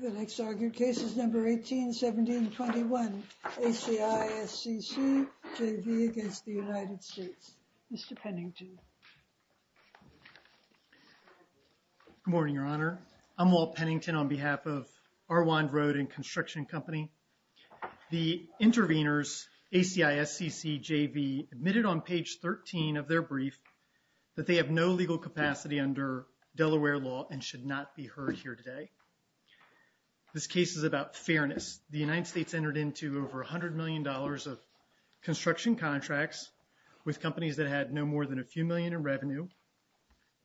The next argued case is number 181721 ACISCCJV against the United States. Mr. Pennington. Good morning, Your Honor. I'm Walt Pennington on behalf of Arwand Road and Construction Company. The intervenors ACISCCJV admitted on page 13 of their brief that they have no legal capacity under Delaware law and should not be heard here today. This case is about fairness. The United States entered into over $100 million of construction contracts with companies that had no more than a few million in revenue.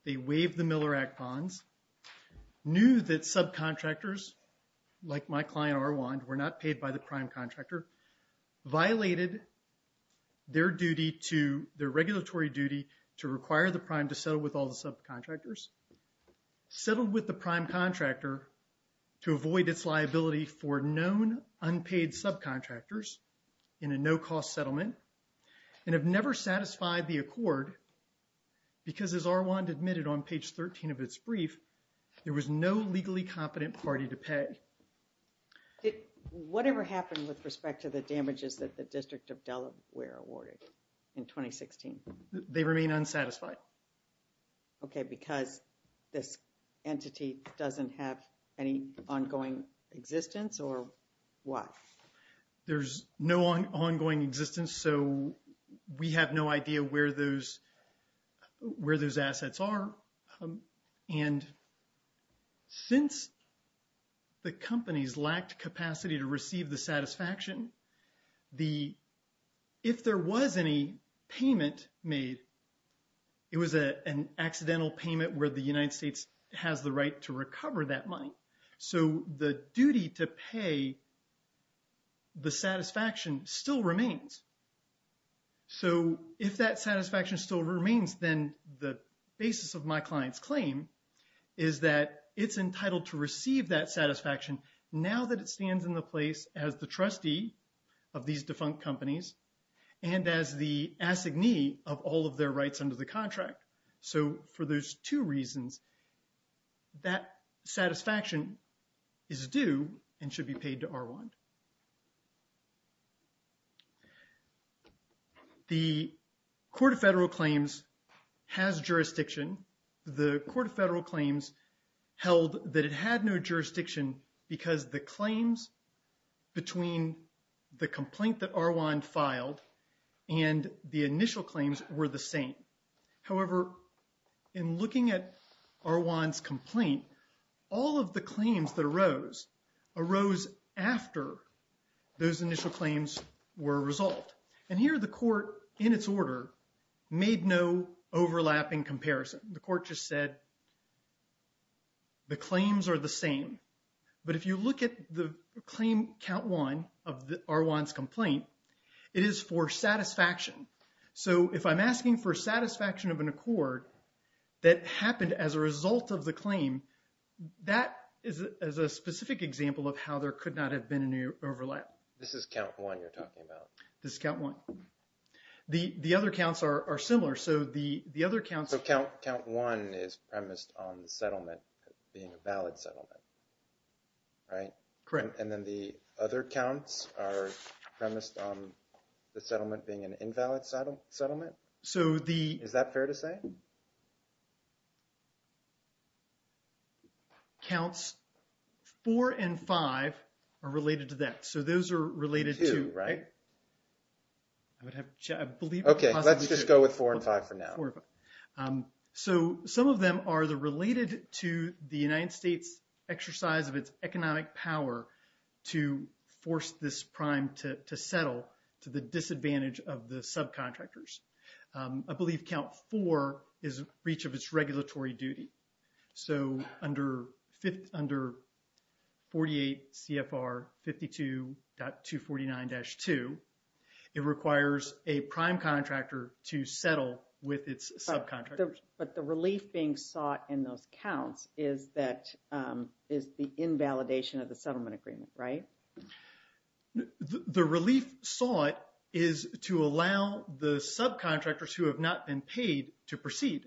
They waived the Miller Act bonds, knew that subcontractors like my client Arwand were not paid by the prime contractor, violated their duty to their regulatory duty to require the prime to settle with all the subcontractors, settled with the prime contractor to avoid its liability for known unpaid subcontractors in a no-cost settlement, and have never satisfied the accord because as Arwand admitted on page 13 of its brief, there was no legally competent party to pay. Whatever happened with respect to the damages that the District of Delaware awarded in 2016? They remain unsatisfied. Okay, because this entity doesn't have any ongoing existence or what? There's no ongoing existence, so we have no idea where those, where those assets are and since the companies lacked capacity to receive the the, if there was any payment made, it was an accidental payment where the United States has the right to recover that money. So the duty to pay, the satisfaction still remains. So if that satisfaction still remains, then the basis of my client's claim is that it's entitled to receive that satisfaction now that it stands in the place as the trustee of these defunct companies and as the assignee of all of their rights under the contract. So for those two reasons, that satisfaction is due and should be paid to Arwand. The Court of Federal Claims has jurisdiction. The Court of Federal Claims held that it had no jurisdiction because the claims between the complaint that Arwand filed and the initial claims were the same. However, in looking at Arwand's complaint, all of the claims that arose arose after those initial claims were resolved. And here the court, in its order, made no overlapping comparison. The court just said the claims are the same. But if you look at the claim count one of the Arwand's complaint, it is for satisfaction. So if I'm asking for of how there could not have been a new overlap. This is count one you're talking about. This is count one. The other counts are similar. So the other counts... So count one is premised on the settlement being a valid settlement, right? Correct. And then the other counts are premised on the settlement being an invalid settlement? So the... Is that fair to say? Counts four and five are related to that. So those are related to... Two, right? I would have to check. I believe... Okay. Let's just go with four and five for now. Four and five. So some of them are the related to the United States exercise of its economic power to force this prime to settle to the disadvantage of the subcontractors. I believe count four is reach of its regulatory duty. So under 48 CFR 52.249-2, it requires a prime contractor to settle with its subcontractors. But the relief being sought in those counts is that... Is the invalidation of the settlement agreement, right? Correct. The relief sought is to allow the subcontractors who have not been paid to proceed.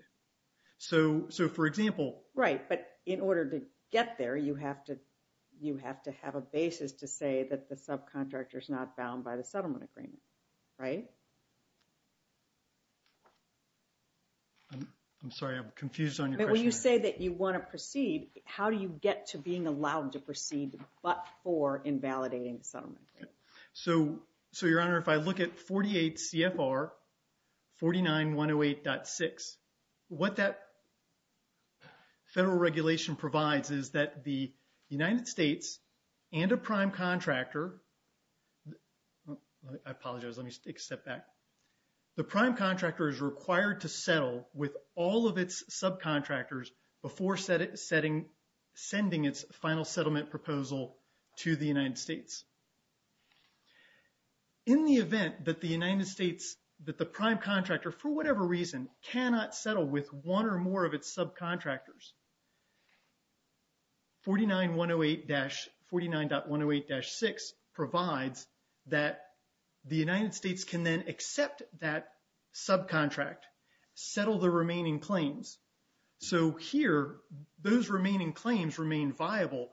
So for example... Right. But in order to get there, you have to have a basis to say that the subcontractor is not bound by the settlement agreement, right? I'm sorry. I'm confused on your question. But when you say that you want to proceed, how do you get to being allowed to proceed but for invalidating the settlement agreement? So your honor, if I look at 48 CFR 49.108.6, what that federal regulation provides is that the United States and a prime contractor... I apologize. Let me take a step back. The prime contractor is required to settle with all of its subcontractors before setting... Sending its final settlement proposal to the United States. In the event that the United States... That the prime contractor for whatever reason cannot settle with one or more of its subcontractors, 49.108-6 provides that the United States can then accept that subcontract, settle the remaining claims. So here, those remaining claims remain viable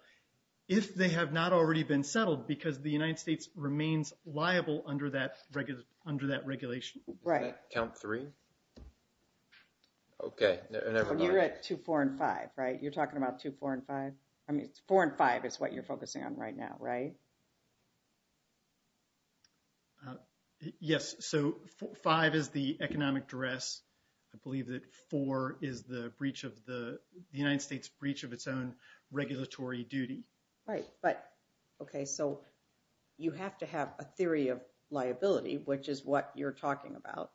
if they have not already been settled because the United States remains liable under that regulation. Right. Count three. Okay. And you're at 2, 4, and 5, right? You're talking about 2, 4, and 5? I mean, 4 and 5 is what you're focusing on right now, right? Yes. So 5 is the economic duress. I believe that 4 is the breach of the... The United States breach of its own regulatory duty. Right. But okay, so you have to have a theory of liability, which is what you're talking about.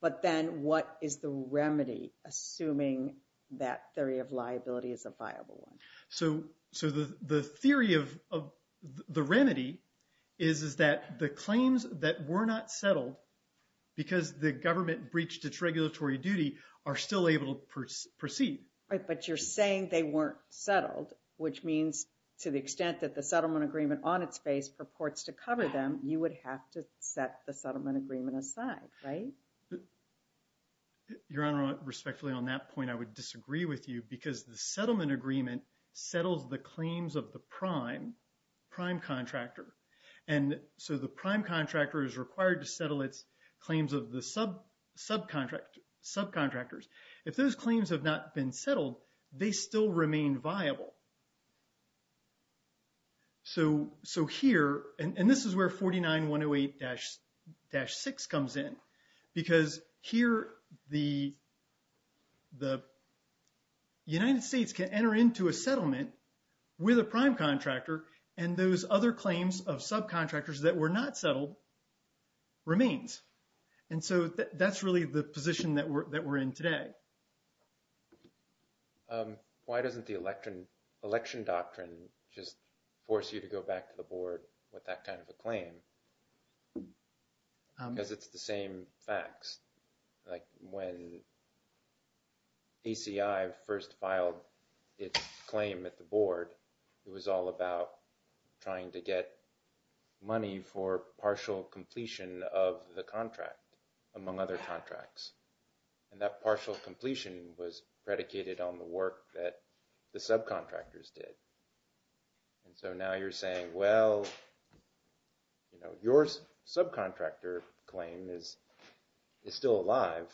But then what is the remedy assuming that theory of liability is a viable one? So the theory of the remedy is that the claims that were not settled because the government breached its regulatory duty are still able to proceed. Right. But you're saying they weren't settled, which means to the extent that the settlement agreement on its face purports to cover them, you would have to set the settlement agreement aside, right? Your Honor, respectfully on that point, I would disagree with you because the settlement agreement settles the claims of the prime contractor. And so the prime contractor is required to settle its claims of the subcontractors. If those claims have not been settled, they still remain viable. So here, and this is where 49-108-6 comes in, because here the United States can enter into a settlement with a prime contractor, and those other claims of subcontractors that were not settled remains. And so that's really the position that we're in today. Why doesn't the election doctrine just force you to go back to the board with that kind of a claim? Because it's the same facts. Like when ACI first filed its claim at the board, it was all about trying to get money for partial completion of the contract, among other contracts. And that completion was predicated on the work that the subcontractors did. And so now you're saying, well, you know, your subcontractor claim is still alive,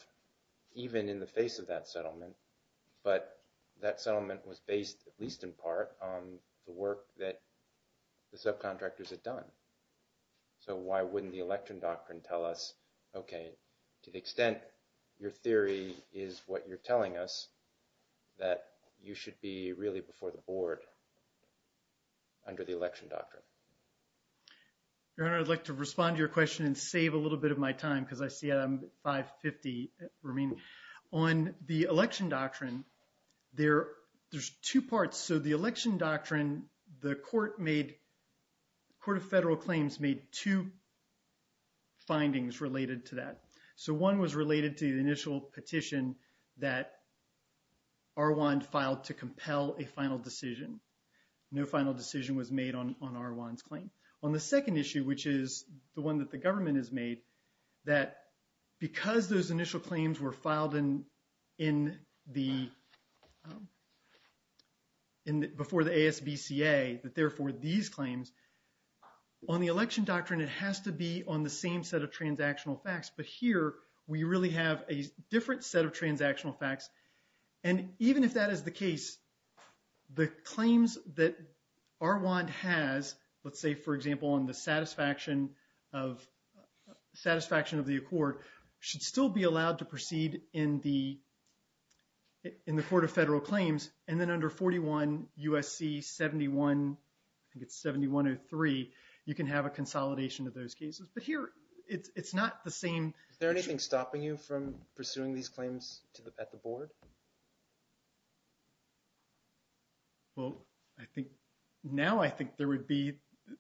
even in the face of that settlement. But that settlement was based, at least in part, on the work that the subcontractors had done. So why wouldn't the election doctrine tell us, okay, to the extent your theory is what you're telling us, that you should be really before the board under the election doctrine? Your Honor, I'd like to respond to your question and save a little bit of my time, because I see I'm at 5.50 remaining. On the election doctrine, there's two parts. So the election doctrine, the Court of Federal Claims made two findings related to that. So one was related to the initial petition that Arwand filed to compel a final decision. No final decision was made on Arwand's claim. On the second issue, which is the one that the government has made, that because those initial claims were filed before the ASBCA, that therefore these claims, on the election doctrine, it has to be on the same set of transactional facts. But here, we really have a different set of transactional facts. And even if that is the case, the claims that Arwand has, let's say, for example, on the satisfaction of the accord, should still be allowed to proceed in the Court of Federal Claims. And then under 41 U.S.C. 71, I think it's 7103, you can have a consolidation of those cases. But here, it's not the same. Is there anything stopping you from pursuing these claims at the board? Well, I think, now I think there would be,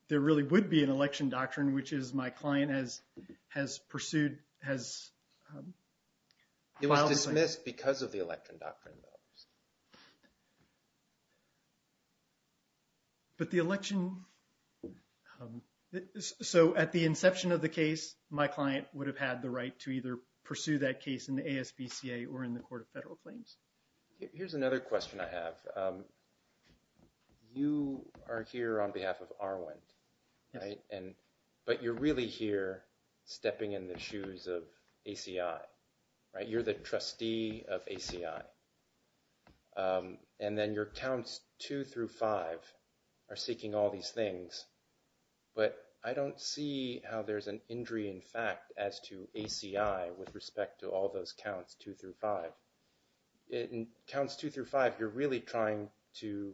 there really would be an election doctrine, which is my client has pursued, has... It was dismissed because of the election doctrine. But the election, so at the inception of the case, my client would have had the right to either pursue that case in the ASBCA or in the Court of Federal Claims. Here's another question I have. You are here on behalf of Arwand, right? But you're really here stepping in the shoes of ACI, right? You're the trustee of ACI. And then your counts two through five are seeking all these things. But I don't see how there's an injury in fact as to ACI with respect to all those counts two through five. In counts two through five, you're really trying to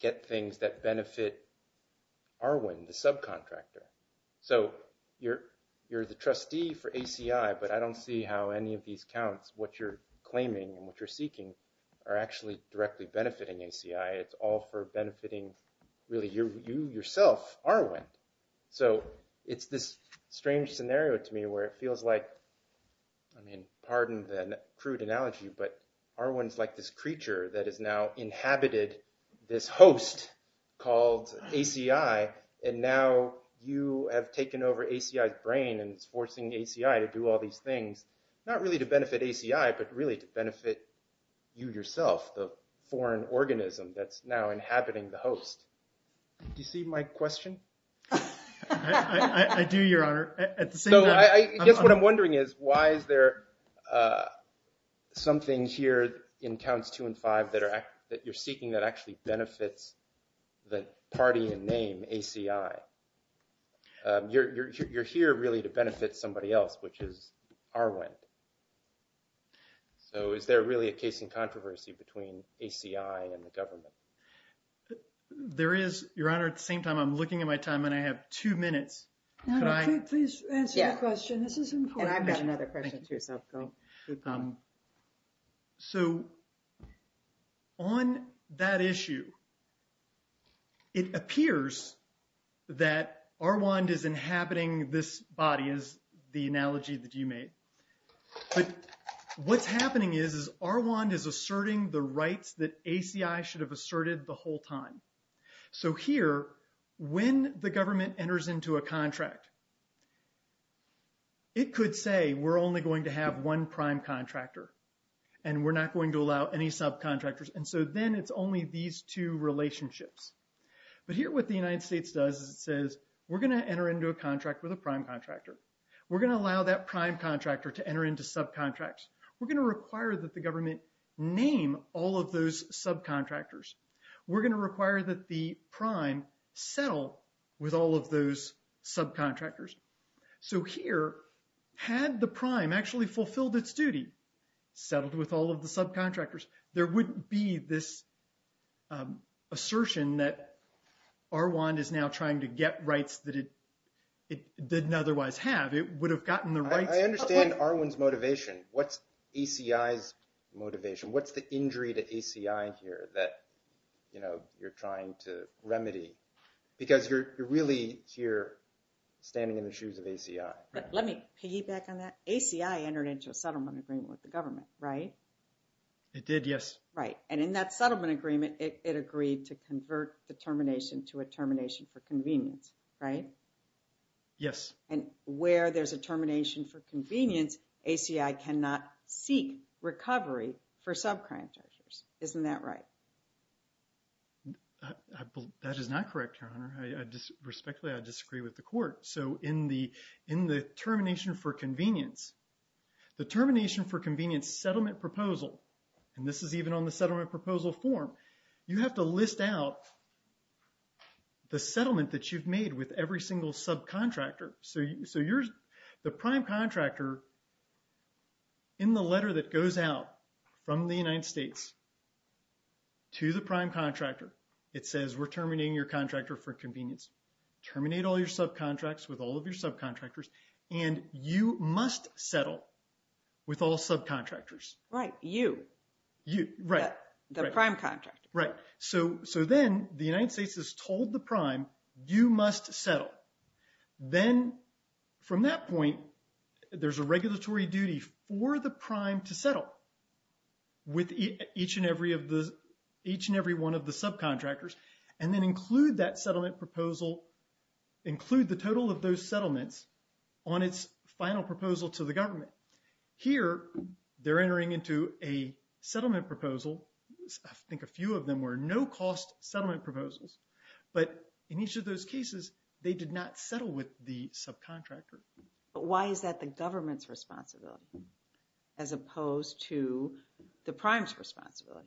get things that benefit Arwand, the subcontractor. So you're the trustee for ACI, but I don't see how any of these counts, what you're claiming and what you're seeking are actually directly benefiting ACI. It's all for benefiting really you yourself, Arwand. So it's this strange scenario to me where it feels like, I mean, pardon the crude analogy, but Arwand's like this creature that has now inhabited this host called ACI. And now you have taken over ACI's brain and it's forcing ACI to do all these things, not really to benefit ACI, but really to benefit you yourself, the foreign organism that's now inhabiting the host. Do you see my question? I do, Your Honor. So I guess what I'm wondering is, why is there something here in counts two and five that you're seeking that actually benefits the party in name, ACI? You're here really to benefit somebody else, which is Arwand. So is there really a case in controversy between ACI and the government? There is, Your Honor. At the same time, I'm looking at my time and I have two minutes. Could I please answer your question? This is important. And I've got another question too, so go. So on that issue, it appears that Arwand is inhabiting this body, is the analogy that you made. But what's happening is Arwand is asserting the rights that ACI should have asserted the whole time. So here, when the government enters into a contract, it could say, we're only going to have one prime contractor and we're not going to allow any subcontractors. And so then it's only these two relationships. But here what the United States does is it says, we're going to enter into a contract with a prime contractor. We're going to allow that prime contractor to enter into subcontracts. We're going to require that the government name all of those subcontractors. We're going to require that the prime settle with all of those subcontractors. So here, had the prime actually fulfilled its duty, settled with all of the subcontractors, there wouldn't be this assertion that Arwand is now trying to get rights that it didn't otherwise have. It would have gotten the rights. I understand Arwand's motivation. What's ACI's motivation? What's the injury to ACI here that you're trying to remedy? Because you're really here standing in the shoes of ACI. Let me piggyback on that. ACI entered into a settlement agreement with the government. And in that settlement agreement, it agreed to convert the termination to a termination for convenience, right? Yes. And where there's a termination for convenience, ACI cannot seek recovery for subcontractors. Isn't that right? That is not correct, Your Honor. Respectfully, I disagree with the court. So in the termination for convenience, the termination for convenience settlement proposal, and this is even on the settlement proposal form, you have to list out the settlement that you've made with every single subcontractor. So the prime contractor in the letter that goes out from the United States to the prime contractor, it says, we're terminating your contractor for convenience. Terminate all your subcontracts with all of your subcontractors. Right. You. You. Right. The prime contractor. Right. So then the United States has told the prime, you must settle. Then from that point, there's a regulatory duty for the prime to settle with each and every one of the subcontractors, and then include that settlement proposal, include the total of those settlements on its final proposal to the government. Here, they're entering into a settlement proposal. I think a few of them were no-cost settlement proposals, but in each of those cases, they did not settle with the subcontractor. But why is that the government's responsibility as opposed to the prime's responsibility?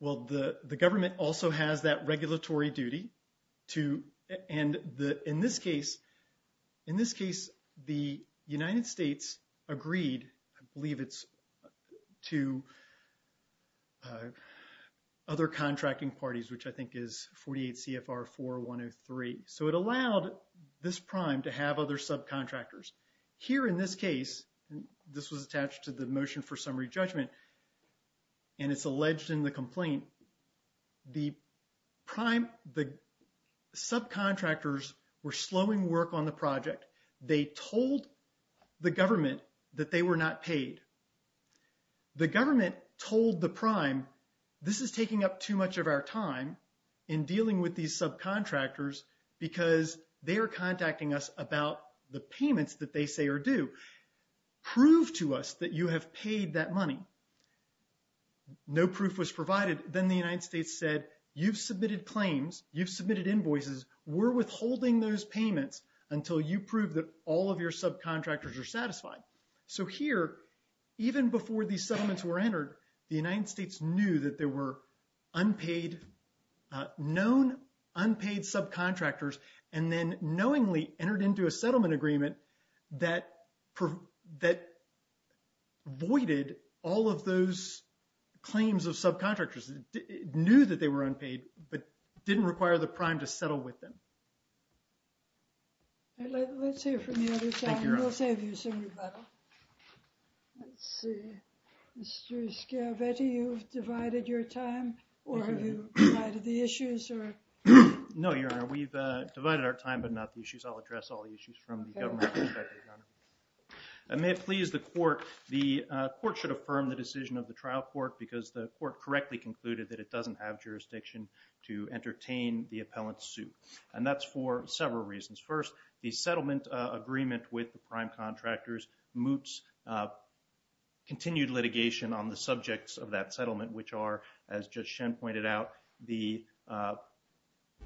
Well, the government also has that regulatory duty to, and in this case, the United States agreed, I believe it's to other contracting parties, which I think is 48 CFR 4103. So it allowed this prime to have other subcontractors. Here in this case, this was attached to the motion for summary judgment, and it's alleged in the complaint, the prime, the subcontractors were slowing work on the project. They told the government that they were not paid. The government told the prime, this is taking up too much of our time in dealing with these subcontractors, because they are contacting us about the payments that they say are due. Prove to us that you have paid that money. No proof was provided. Then the United States said, you've submitted claims, you've submitted invoices, we're withholding those payments until you prove that all of your subcontractors are satisfied. So here, even before these settlements were entered, the United States knew that there were known unpaid subcontractors, and then knowingly entered into a settlement agreement that voided all of those claims of subcontractors. It knew that they were unpaid, but didn't require the prime to settle with them. Let's hear from the other side, and we'll save you some rebuttal. Let's see, Mr. Scavetti, you've divided your time, or have you divided the issues? No, Your Honor, we've divided our time, but not the issues. I'll address all the issues from the government perspective, Your Honor. And may it please the court, the court should affirm the decision of the trial court, because the court correctly concluded that it doesn't have jurisdiction to entertain the appellant's suit. And that's for several reasons. First, the settlement agreement with the prime contractors moots continued litigation on the subjects of that settlement, which are, as Judge Shen pointed out, the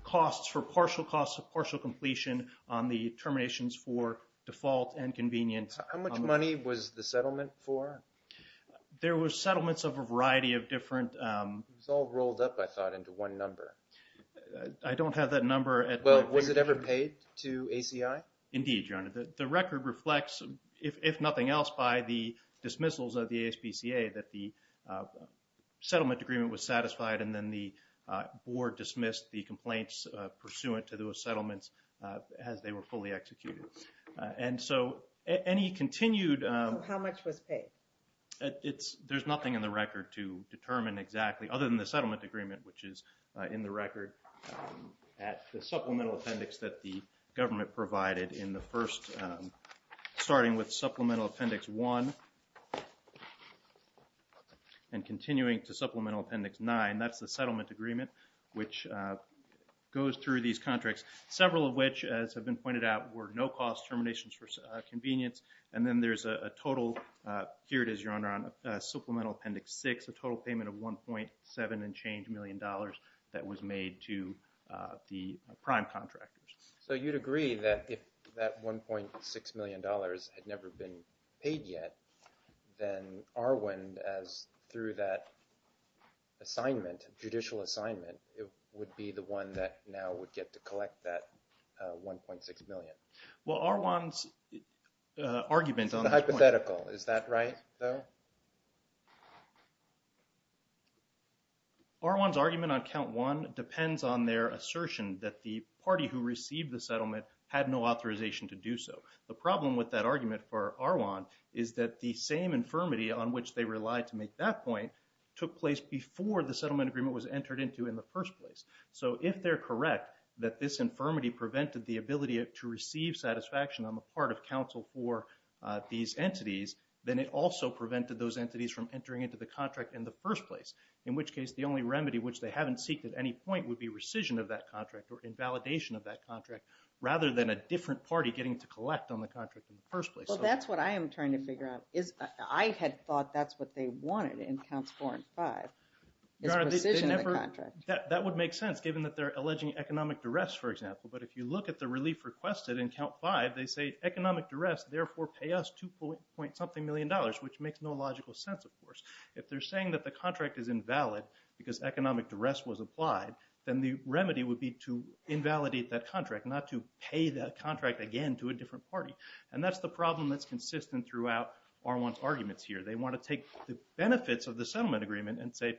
costs for partial costs of partial completion on the terminations for default and convenience. How much money was the settlement for? There was settlements of a variety of different... It was all rolled up, I thought, into one number. I don't have that number. Well, was it ever paid to ACI? Indeed, Your Honor. The record reflects, if nothing else, by the dismissals of the ASPCA, that the settlement agreement was satisfied, and then the board dismissed the complaints pursuant to those settlements as they were fully executed. And so any continued... How much was paid? There's nothing in the record to determine exactly, other than the settlement agreement, which is in the record at the supplemental appendix that the government provided in the first, starting with Supplemental Appendix 1 and continuing to Supplemental Appendix 9. That's the settlement agreement, which goes through these contracts, several of which, as has been pointed out, were no-cost terminations for convenience. And then there's a total, here it is, Your Honor, on Supplemental Appendix 6, a total payment of $1.7 and change million that was made to the prime contractors. So you'd agree that if that $1.6 million had never been paid yet, then Arwind, as through that assignment, judicial assignment, would be the one that now would get to collect that $1.6 million? Well, Arwind's argument on... Hypothetical. Is that right, though? Arwind's argument on Count 1 depends on their assertion that the party who received the settlement had no authorization to do so. The problem with that argument for Arwind is that the same infirmity on which they relied to make that point took place before the settlement agreement was entered into in the first place. So if they're correct that this infirmity prevented the ability to receive satisfaction on the part of counsel for these entities, then it also prevented those entities from entering into the contract in the first place. In which case, the only remedy which they haven't seeked at any point would be rescission of that contract or invalidation of that contract, rather than a different party getting to collect on the contract in the first place. Well, that's what I am trying to figure out. I had thought that's what they wanted in Counts 4 and 5, is rescission of the contract. Your Honor, that would make sense, given that they're alleging economic duress, for example. But if you look at the relief requested in Count 5, they say economic duress, therefore pay us 2 point something million dollars, which makes no logical sense, of course. If they're saying that the contract is invalid because economic duress was applied, then the remedy would be to invalidate that contract, not to pay that contract again to a different party. And that's the problem that's consistent throughout Arwind's arguments here. They want to take the benefits of the settlement agreement and say,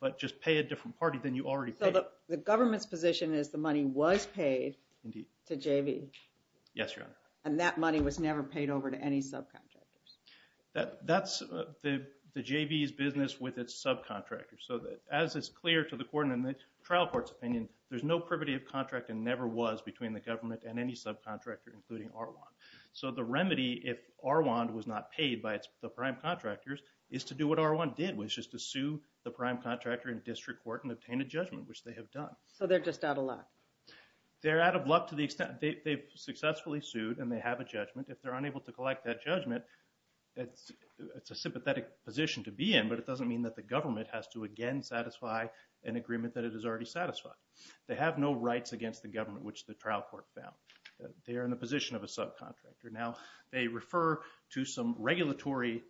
but just pay a different party than you already paid. So the government's position is the money was paid to JV? Yes, Your Honor. And that money was never paid over to any subcontractors? That's the JV's business with its subcontractors. So as it's clear to the court and the trial court's opinion, there's no privity of contract and never was between the government and any subcontractor, including Arwind. So the remedy, if Arwind was not paid by the prime contractors, is to do what Arwind did, which is to sue the prime contractor in district court and obtain a judgment, which they have done. So they're just out of luck? They're out of luck to the extent they've successfully sued and they have a judgment. If they're unable to collect that judgment, it's a sympathetic position to be in, but it doesn't mean that the government has to again satisfy an agreement that it has already satisfied. They have no rights against the government, which the trial court found. They are in the position of a subcontractor. Now they refer to some regulatory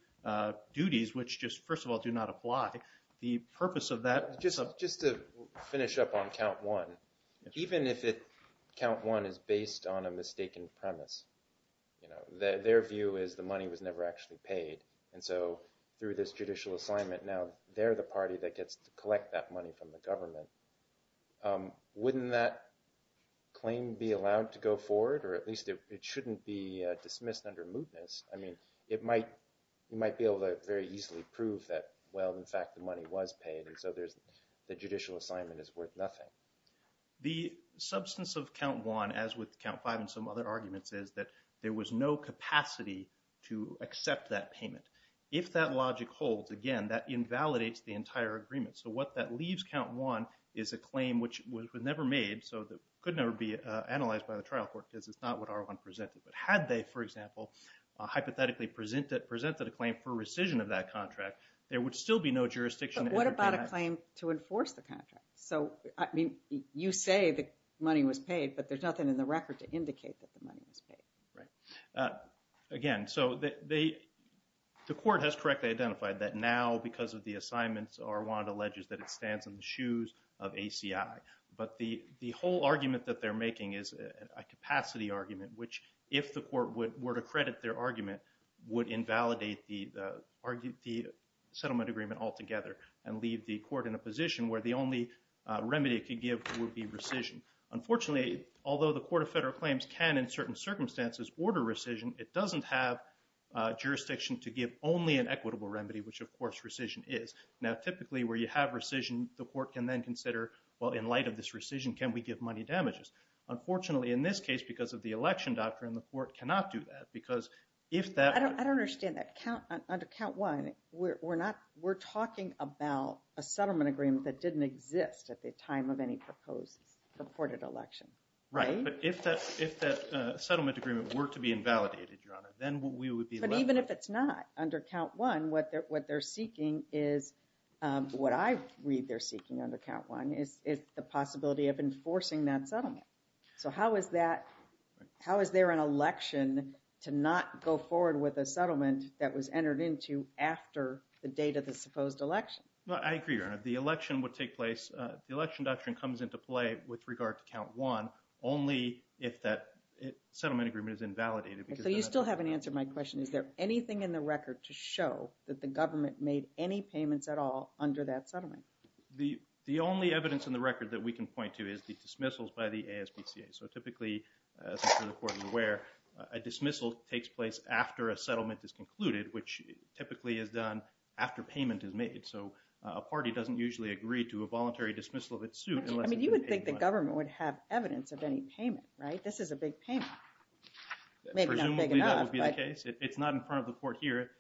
duties, which just, first of all, do not apply. The purpose of that... Just to finish up on count one, even if count one is based on a mistaken premise, their view is the money was never actually paid. And so through this judicial assignment, now they're the party that gets to collect that money from the government. Wouldn't that claim be allowed to go forward? Or at least it shouldn't be dismissed under mootness. I mean, it might be able to very easily prove that, well, in fact, the money was paid. And so the judicial assignment is worth nothing. The substance of count one, as with count five and some other arguments, is that there was no capacity to accept that payment. If that logic holds, again, that invalidates the entire agreement. So what that leaves count one is a claim which was never made, so that could never be analyzed by the trial court, because it's not what R1 presented. But had they, for example, hypothetically presented a claim for rescission of that contract, there would still be no jurisdiction. But what about a claim to enforce the contract? So, I mean, you say the money was paid, but there's nothing in the record to indicate that the money was paid. Right. Again, so the court has correctly identified that now, because of the assignments, R1 alleges that it stands in the shoes of ACI. But the whole argument that they're making is a capacity argument, which, if the court were to credit their argument, would invalidate the settlement agreement altogether and leave the court in a position where the only remedy it could give would be rescission. Unfortunately, although the Court of Federal Claims can, in certain circumstances, order rescission, it doesn't have jurisdiction to give only an equitable remedy, which, of course, rescission is. Now, typically, where you have consider, well, in light of this rescission, can we give money damages? Unfortunately, in this case, because of the election doctrine, the court cannot do that, because if that... I don't understand that. Under count one, we're not, we're talking about a settlement agreement that didn't exist at the time of any proposed, purported election. Right. But if that settlement agreement were to be invalidated, Your Honor, then we would be... But even if it's not, under count one, what they're seeking is, what I read they're seeking under count one, is the possibility of enforcing that settlement. So how is that, how is there an election to not go forward with a settlement that was entered into after the date of the supposed election? Well, I agree, Your Honor. The election would take place, the election doctrine comes into play with regard to count one, only if that settlement agreement is invalidated, because... So you still haven't answered my question. Is there anything in the record to show that the government made any payments at all under that settlement? The, the only evidence in the record that we can point to is the dismissals by the ASPCA. So typically, as I'm sure the Court is aware, a dismissal takes place after a settlement is concluded, which typically is done after payment is made. So a party doesn't usually agree to a voluntary dismissal of its suit unless... I mean, you would think the government would have evidence of any payment, right? This is a big payment. Presumably that would be the case. It's not in front of the Court here.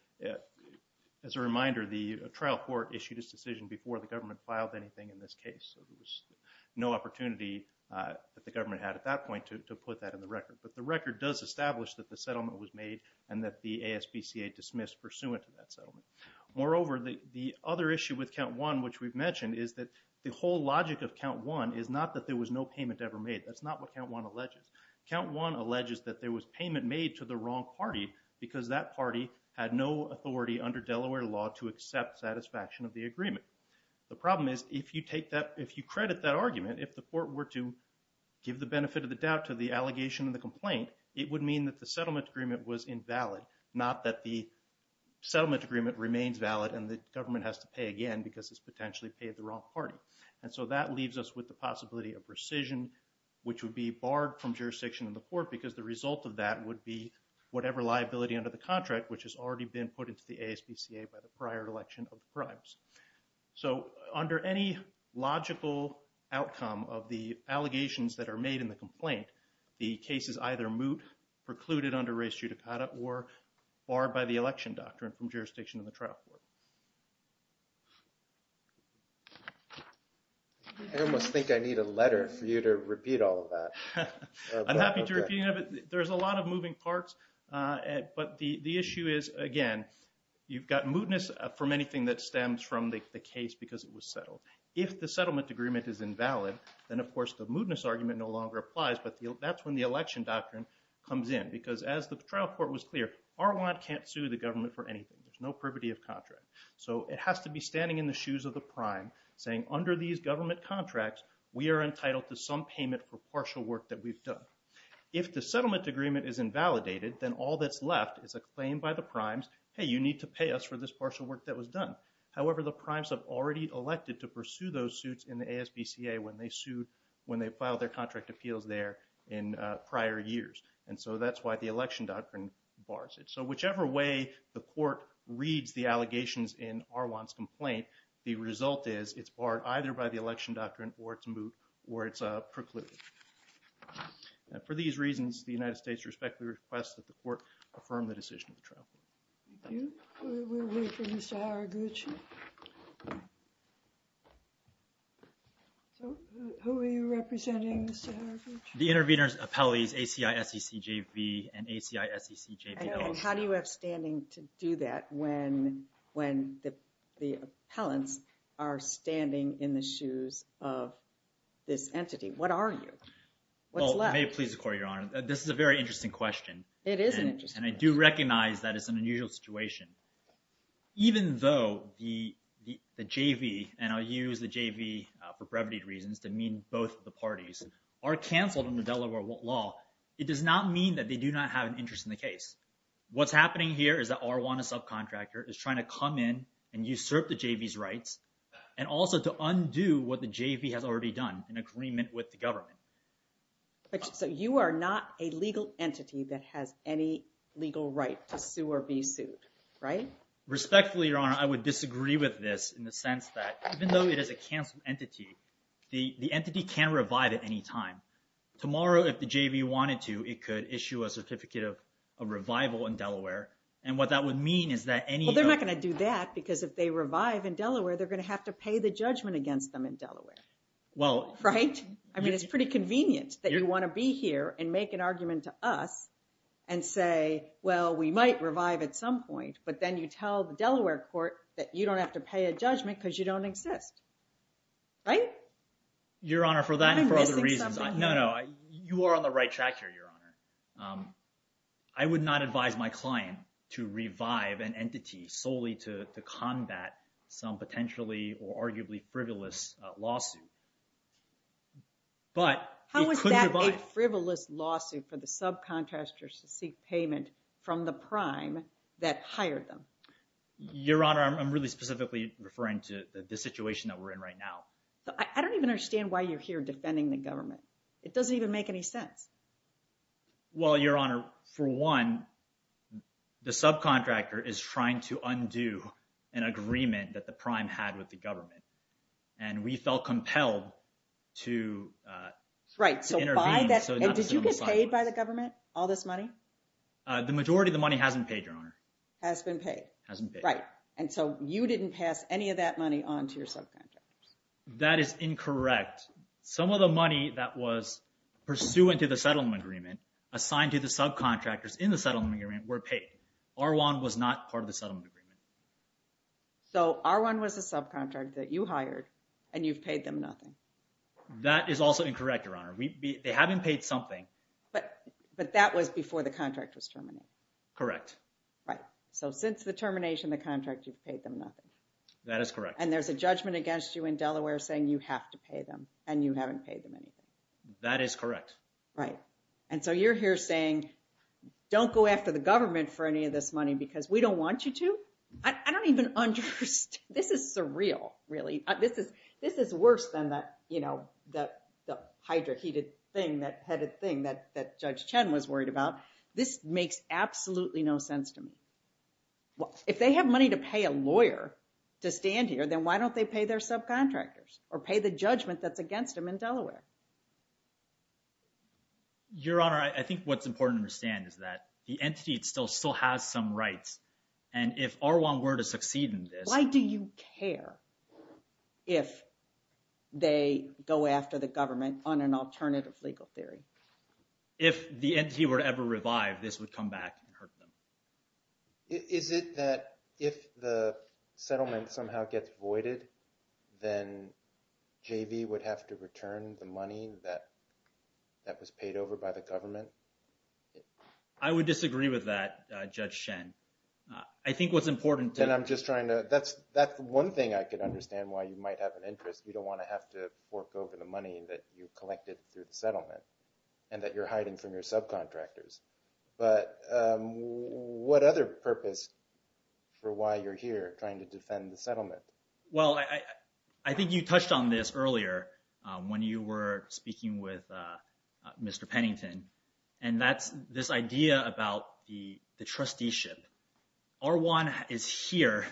As a reminder, the trial court issued its decision before the government filed anything in this case, so there was no opportunity that the government had at that point to put that in the record. But the record does establish that the settlement was made and that the ASPCA dismissed pursuant to that settlement. Moreover, the other issue with count one, which we've mentioned, is that the whole logic of count one is not that there was no payment ever made. That's not what count one alleges. Count one alleges that there was payment made to the wrong party because that party had no authority under Delaware law to accept satisfaction of the agreement. The problem is, if you take that, if you credit that argument, if the Court were to give the benefit of the doubt to the allegation and the complaint, it would mean that the settlement agreement was invalid, not that the settlement agreement remains valid and the government has to pay again because it's And so that leaves us with the possibility of rescission, which would be barred from jurisdiction in the Court because the result of that would be whatever liability under the contract, which has already been put into the ASPCA by the prior election of the primes. So under any logical outcome of the allegations that are made in the complaint, the case is either moot, precluded under res judicata, or barred by the election doctrine from jurisdiction in the trial court. I almost think I need a letter for you to repeat all of that. I'm happy to repeat it. There's a lot of moving parts, but the issue is, again, you've got mootness from anything that stems from the case because it was settled. If the settlement agreement is invalid, then of course the mootness argument no longer applies, but that's when the election doctrine comes in because as the trial court was clear, Arwad can't sue the government for anything. There's no privity of contract. So it has to be standing in the shoes of the prime saying, under these government contracts, we are entitled to some payment for partial work that we've done. If the settlement agreement is invalidated, then all that's left is a claim by the primes, hey, you need to pay us for this partial work that was done. However, the primes have already elected to pursue those suits in the ASPCA when they filed their contract appeals there in prior years. And so that's why the election doctrine bars it. So whichever way the court reads the allegations in Arwad's complaint, the result is it's barred either by the election doctrine or it's moot or it's precluded. For these reasons, the United States respectfully requests that the court affirm the decision of the trial court. Thank you. We'll wait for Mr. Haraguchi. So who are you representing, Mr. Haraguchi? The intervenors' appellees, ACI-SEC-JV and ACI-SEC-JVL. And how do you have standing to do that when the appellants are standing in the shoes of this entity? What are you? What's left? May it please the court, Your Honor. This is a very interesting question. It is an interesting question. And I do recognize that it's an unusual situation. Even though the JV, and I'll use the JV for brevity reasons to both the parties, are canceled in the Delaware law, it does not mean that they do not have an interest in the case. What's happening here is that Arwad, a subcontractor, is trying to come in and usurp the JV's rights and also to undo what the JV has already done in agreement with the government. So you are not a legal entity that has any legal right to sue or be sued, right? Respectfully, Your Honor, I would disagree with this in the sense that even though it is a entity, the entity can revive at any time. Tomorrow, if the JV wanted to, it could issue a certificate of revival in Delaware. And what that would mean is that any- Well, they're not going to do that because if they revive in Delaware, they're going to have to pay the judgment against them in Delaware. Right? I mean, it's pretty convenient that you want to be here and make an argument to us and say, well, we might revive at some point, but then you tell the Delaware court that you don't have to pay a judgment because you don't exist. Right? Your Honor, for that and for other reasons, no, no, you are on the right track here, Your Honor. I would not advise my client to revive an entity solely to combat some potentially or arguably frivolous lawsuit. But- How is that a frivolous lawsuit for the subcontractors to seek payment from the prime that hired them? Your Honor, I'm really specifically referring to the situation that we're in right now. I don't even understand why you're here defending the government. It doesn't even make any sense. Well, Your Honor, for one, the subcontractor is trying to undo an agreement that the prime had with the government. And we felt compelled to intervene. Right. So by that, did you get paid by the government, all this money? The majority of the money hasn't paid, Your Honor. Has been paid. Hasn't paid. Right. And so you didn't pass any of that money onto your subcontractors. That is incorrect. Some of the money that was pursuant to the settlement agreement assigned to the subcontractors in the settlement agreement were paid. R1 was not part of the settlement agreement. So R1 was a subcontract that you hired and you've paid them nothing? That is also incorrect, Your Honor. They haven't paid something. But that was before the contract was terminated. Correct. Right. So since the termination, the contract, you've paid them nothing. That is correct. And there's a judgment against you in Delaware saying you have to pay them and you haven't paid them anything. That is correct. Right. And so you're here saying, don't go after the government for any of this money because we don't want you to? I don't even understand. This is surreal, really. This is worse than that, you know, the hydra-heated thing, that headed thing that Judge Chen was worried about. This makes absolutely no sense to me. Well, if they have money to pay a lawyer to stand here, then why don't they pay their subcontractors or pay the judgment that's against them in Delaware? Your Honor, I think what's important to understand is that the entity still has some rights. And if R1 were to succeed in this... Why do you care if they go after the government? Is it that if the settlement somehow gets voided, then JV would have to return the money that was paid over by the government? I would disagree with that, Judge Chen. I think what's important to... And I'm just trying to... That's one thing I could understand why you might have an interest. We don't want to have to fork over the money that you collected through the settlement and that you're hiding from your subcontractors. But what other purpose for why you're here trying to defend the settlement? Well, I think you touched on this earlier when you were speaking with Mr. Pennington. And that's this idea about the trusteeship. R1 is here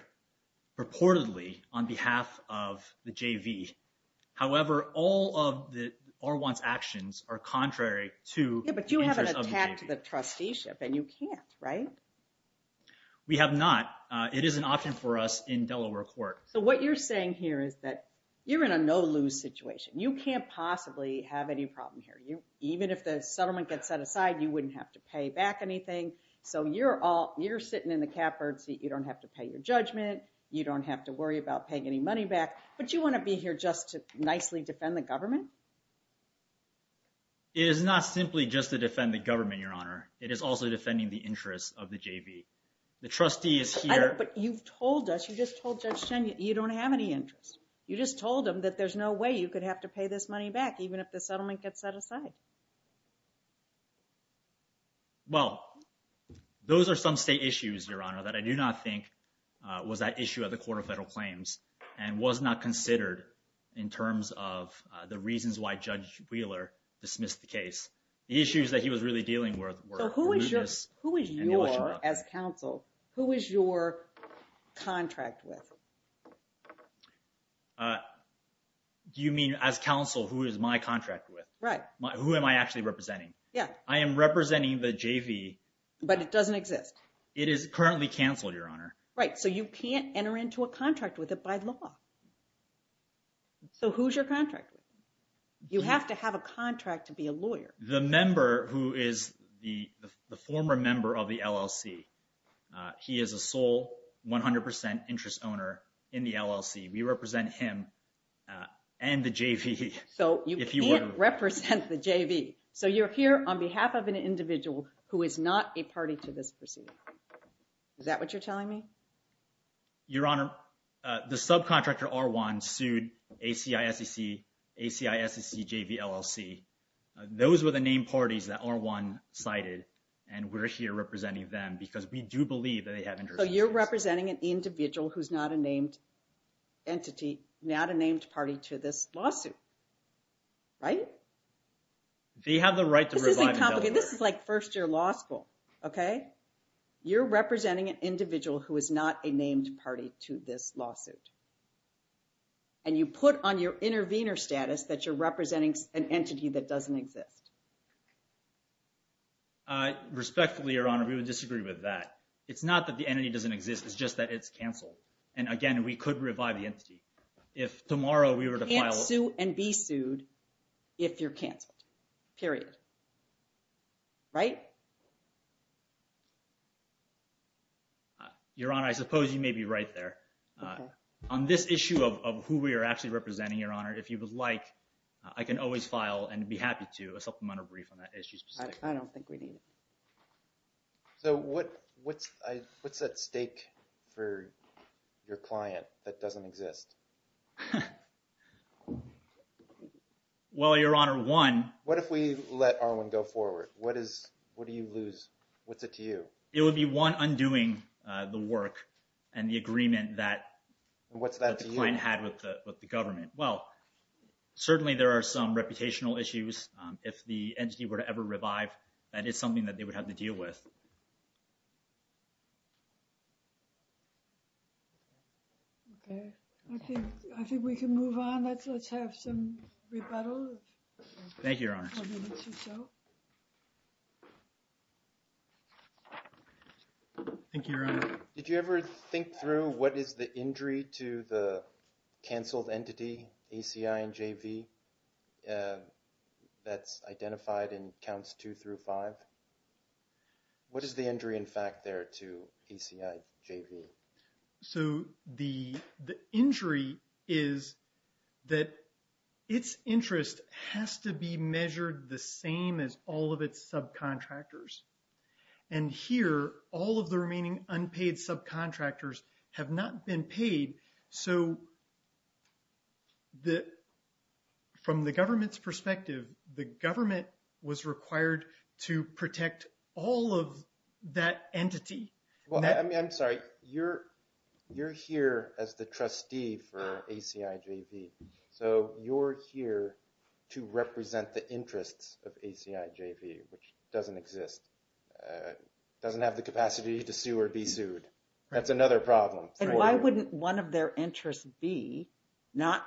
purportedly on behalf of the JV. However, all of R1's actions are contrary to the interest of the JV. Yeah, but you have an attack to the trusteeship and you can't, right? We have not. It is an option for us in Delaware court. So what you're saying here is that you're in a no-lose situation. You can't possibly have any problem here. Even if the settlement gets set aside, you wouldn't have to pay back anything. So you're sitting in the catbird seat. You don't have to pay your judgment. You don't have to worry about paying any money back, but you want to be here just to nicely defend the government? It is not simply just to defend the government, Your Honor. It is also defending the interest of the JV. The trustee is here- But you've told us, you just told Judge Chen, you don't have any interest. You just told him that there's no way you could have to pay this money back, even if the settlement gets set aside. Well, those are some state issues, Your Honor, that I do not think was that issue at the Court of Federal Claims and was not considered in terms of the reasons why Judge Wheeler dismissed the case. The issues that he was really dealing with were- So who is your, as counsel, who is your contract with? Do you mean as counsel, who is my contract with? Right. Who am I actually representing? Yeah. I am representing the JV. But it doesn't exist. It is currently canceled, Your Honor. Right. So you can't enter into a contract with it by law. So who's your contract with? You have to have a contract to be a lawyer. The member who is the former member of the LLC. He is a sole 100% interest owner in the LLC. We represent him and the JV. So you can't represent the JV. So you're here on behalf of an individual who is not a party to this proceeding. Is that what you're telling me? Your Honor, the subcontractor R1 sued ACISCC, ACISCC, JV, LLC. Those were the named parties that R1 cited, and we're here representing them because we do believe that they have- So you're representing an individual who's not a named entity, not a named party to this lawsuit. Right? They have the right to revive- This isn't complicated. This is like first year law school. You're representing an individual who is not a named party to this lawsuit. And you put on your intervener status that you're representing an entity that doesn't exist. Respectfully, Your Honor, we would disagree with that. It's not that the entity doesn't exist. It's just that it's canceled. And again, we could revive the entity. If tomorrow we were to file- Sue and be sued if you're canceled, period. Right? Your Honor, I suppose you may be right there. On this issue of who we are actually representing, Your Honor, if you would like, I can always file and be happy to, a supplemental brief on that issue specifically. I don't think we need it. So what's at stake for your client that doesn't exist? Well, Your Honor, one- What if we let Arwin go forward? What do you lose? What's it to you? It would be one, undoing the work and the agreement that- What's that to you? The client had with the government. Well, certainly there are some reputational issues. If the entity were to ever revive, that is something that they would have to deal with. Okay. I think we can move on. Let's have some rebuttal. Thank you, Your Honor. Thank you, Your Honor. Did you ever think through what is the injury to the canceled entity, ACI and JV, that's identified in counts two through five? What is the injury in fact there to ACI, JV? So the injury is that its interest has to be measured the same as all of its subcontractors. And here, all of the remaining unpaid subcontractors have not been paid. So from the government's perspective, the government was required to protect all of that entity. Well, I'm sorry, you're here as the trustee for ACI, JV. So you're here to represent the interests of ACI, JV, which doesn't exist, doesn't have the capacity to sue or be sued. That's another problem. And why wouldn't one of their interests be not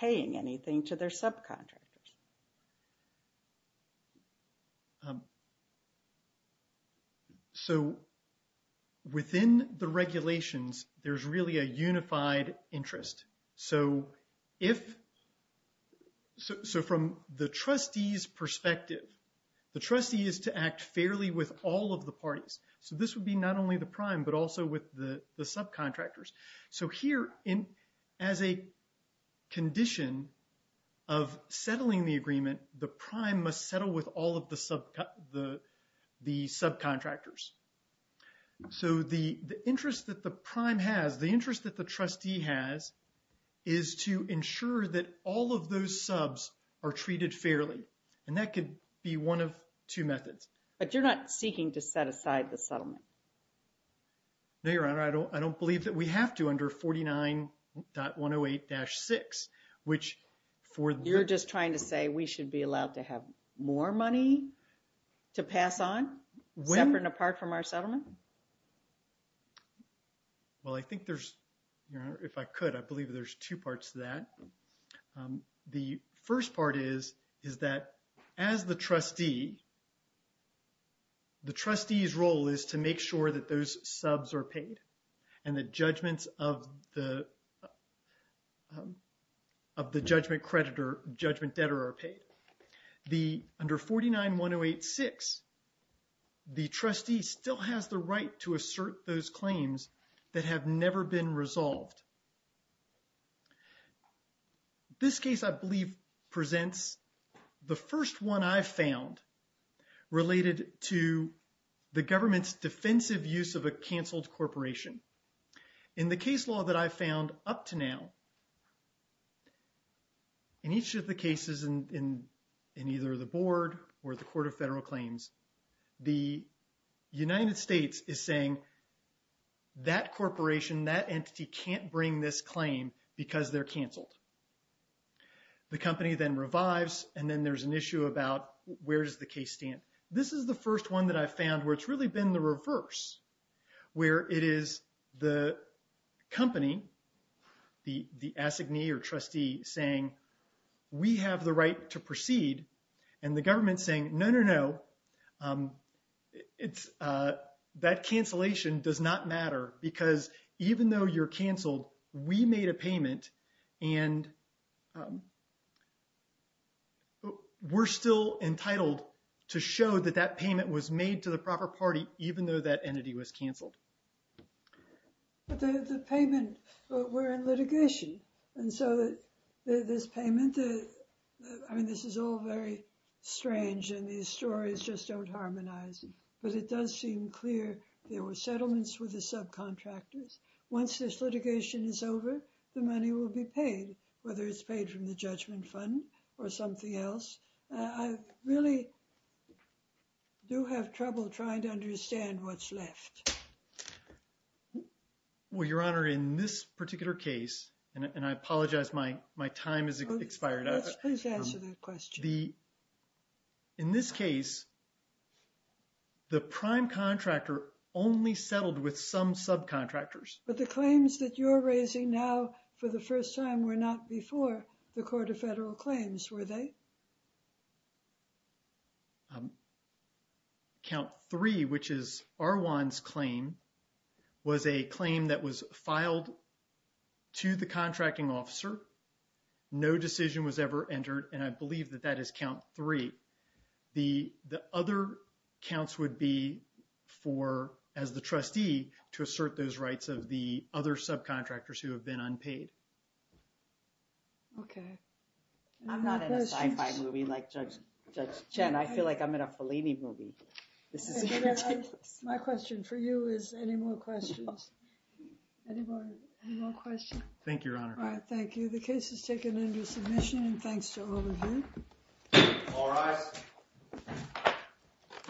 paying anything to their subcontractors? So within the regulations, there's really a unified interest. So from the trustee's perspective, the trustee is to act fairly with all of the parties. So this would be not only the prime, but also with the subcontractors. So here, as a condition of settling the agreement, the prime must settle with all of the subcontractors. So the interest that the prime has, the interest that the trustee has, is to ensure that all of those subs are treated fairly. And that could be one of two methods. But you're not seeking to set aside the settlement. No, Your Honor, I don't believe that we have to under 49.108-6, which for... You're just trying to say we should be allowed to have more money to pass on, separate and apart from our settlement? Well, I think there's, Your Honor, if I could, I believe there's two parts to that. The first part is, is that as the trustee, the trustee's role is to make sure that those subs are paid. And the judgments of the judgment creditor, judgment debtor are paid. Under 49.108-6, the trustee still has the right to assert those claims that have never been resolved. This case, I believe, presents the first one I've found related to the government's defensive use of a canceled corporation. In the case law that I've found up to now, in each of the cases in either the board or the Court of Federal Claims, the United States is saying that corporation, the company then revives, and then there's an issue about where does the case stand? This is the first one that I've found where it's really been the reverse, where it is the company, the assignee or trustee saying, we have the right to proceed. And the government's saying, no, no, no, we made a payment and we're still entitled to show that that payment was made to the proper party, even though that entity was canceled. But the payment, we're in litigation. And so this payment, I mean, this is all very strange and these stories just don't harmonize. But it does seem clear there were settlements with the subcontractors. Once this litigation is over, the money will be paid, whether it's paid from the judgment fund or something else. I really do have trouble trying to understand what's left. Well, Your Honor, in this particular case, and I apologize, my time has expired. Yes, please answer that question. In this case, the prime contractor only settled with some subcontractors. But the claims that you're raising now for the first time were not before the Court of Federal Claims, were they? Count three, which is Arwan's claim, was a claim that was filed to the contracting officer. No decision was ever entered. And I believe that that is count three. The other counts would be for, as the trustee, to assert those rights of the other subcontractors who have been unpaid. Okay. I'm not in a sci-fi movie like Judge Chen. I feel like I'm in a Fellini movie. My question for you is, any more questions? Anybody, any more questions? Thank you, Your Honor. All right, thank you. The case is taken into submission, and thanks to all of you. All rise.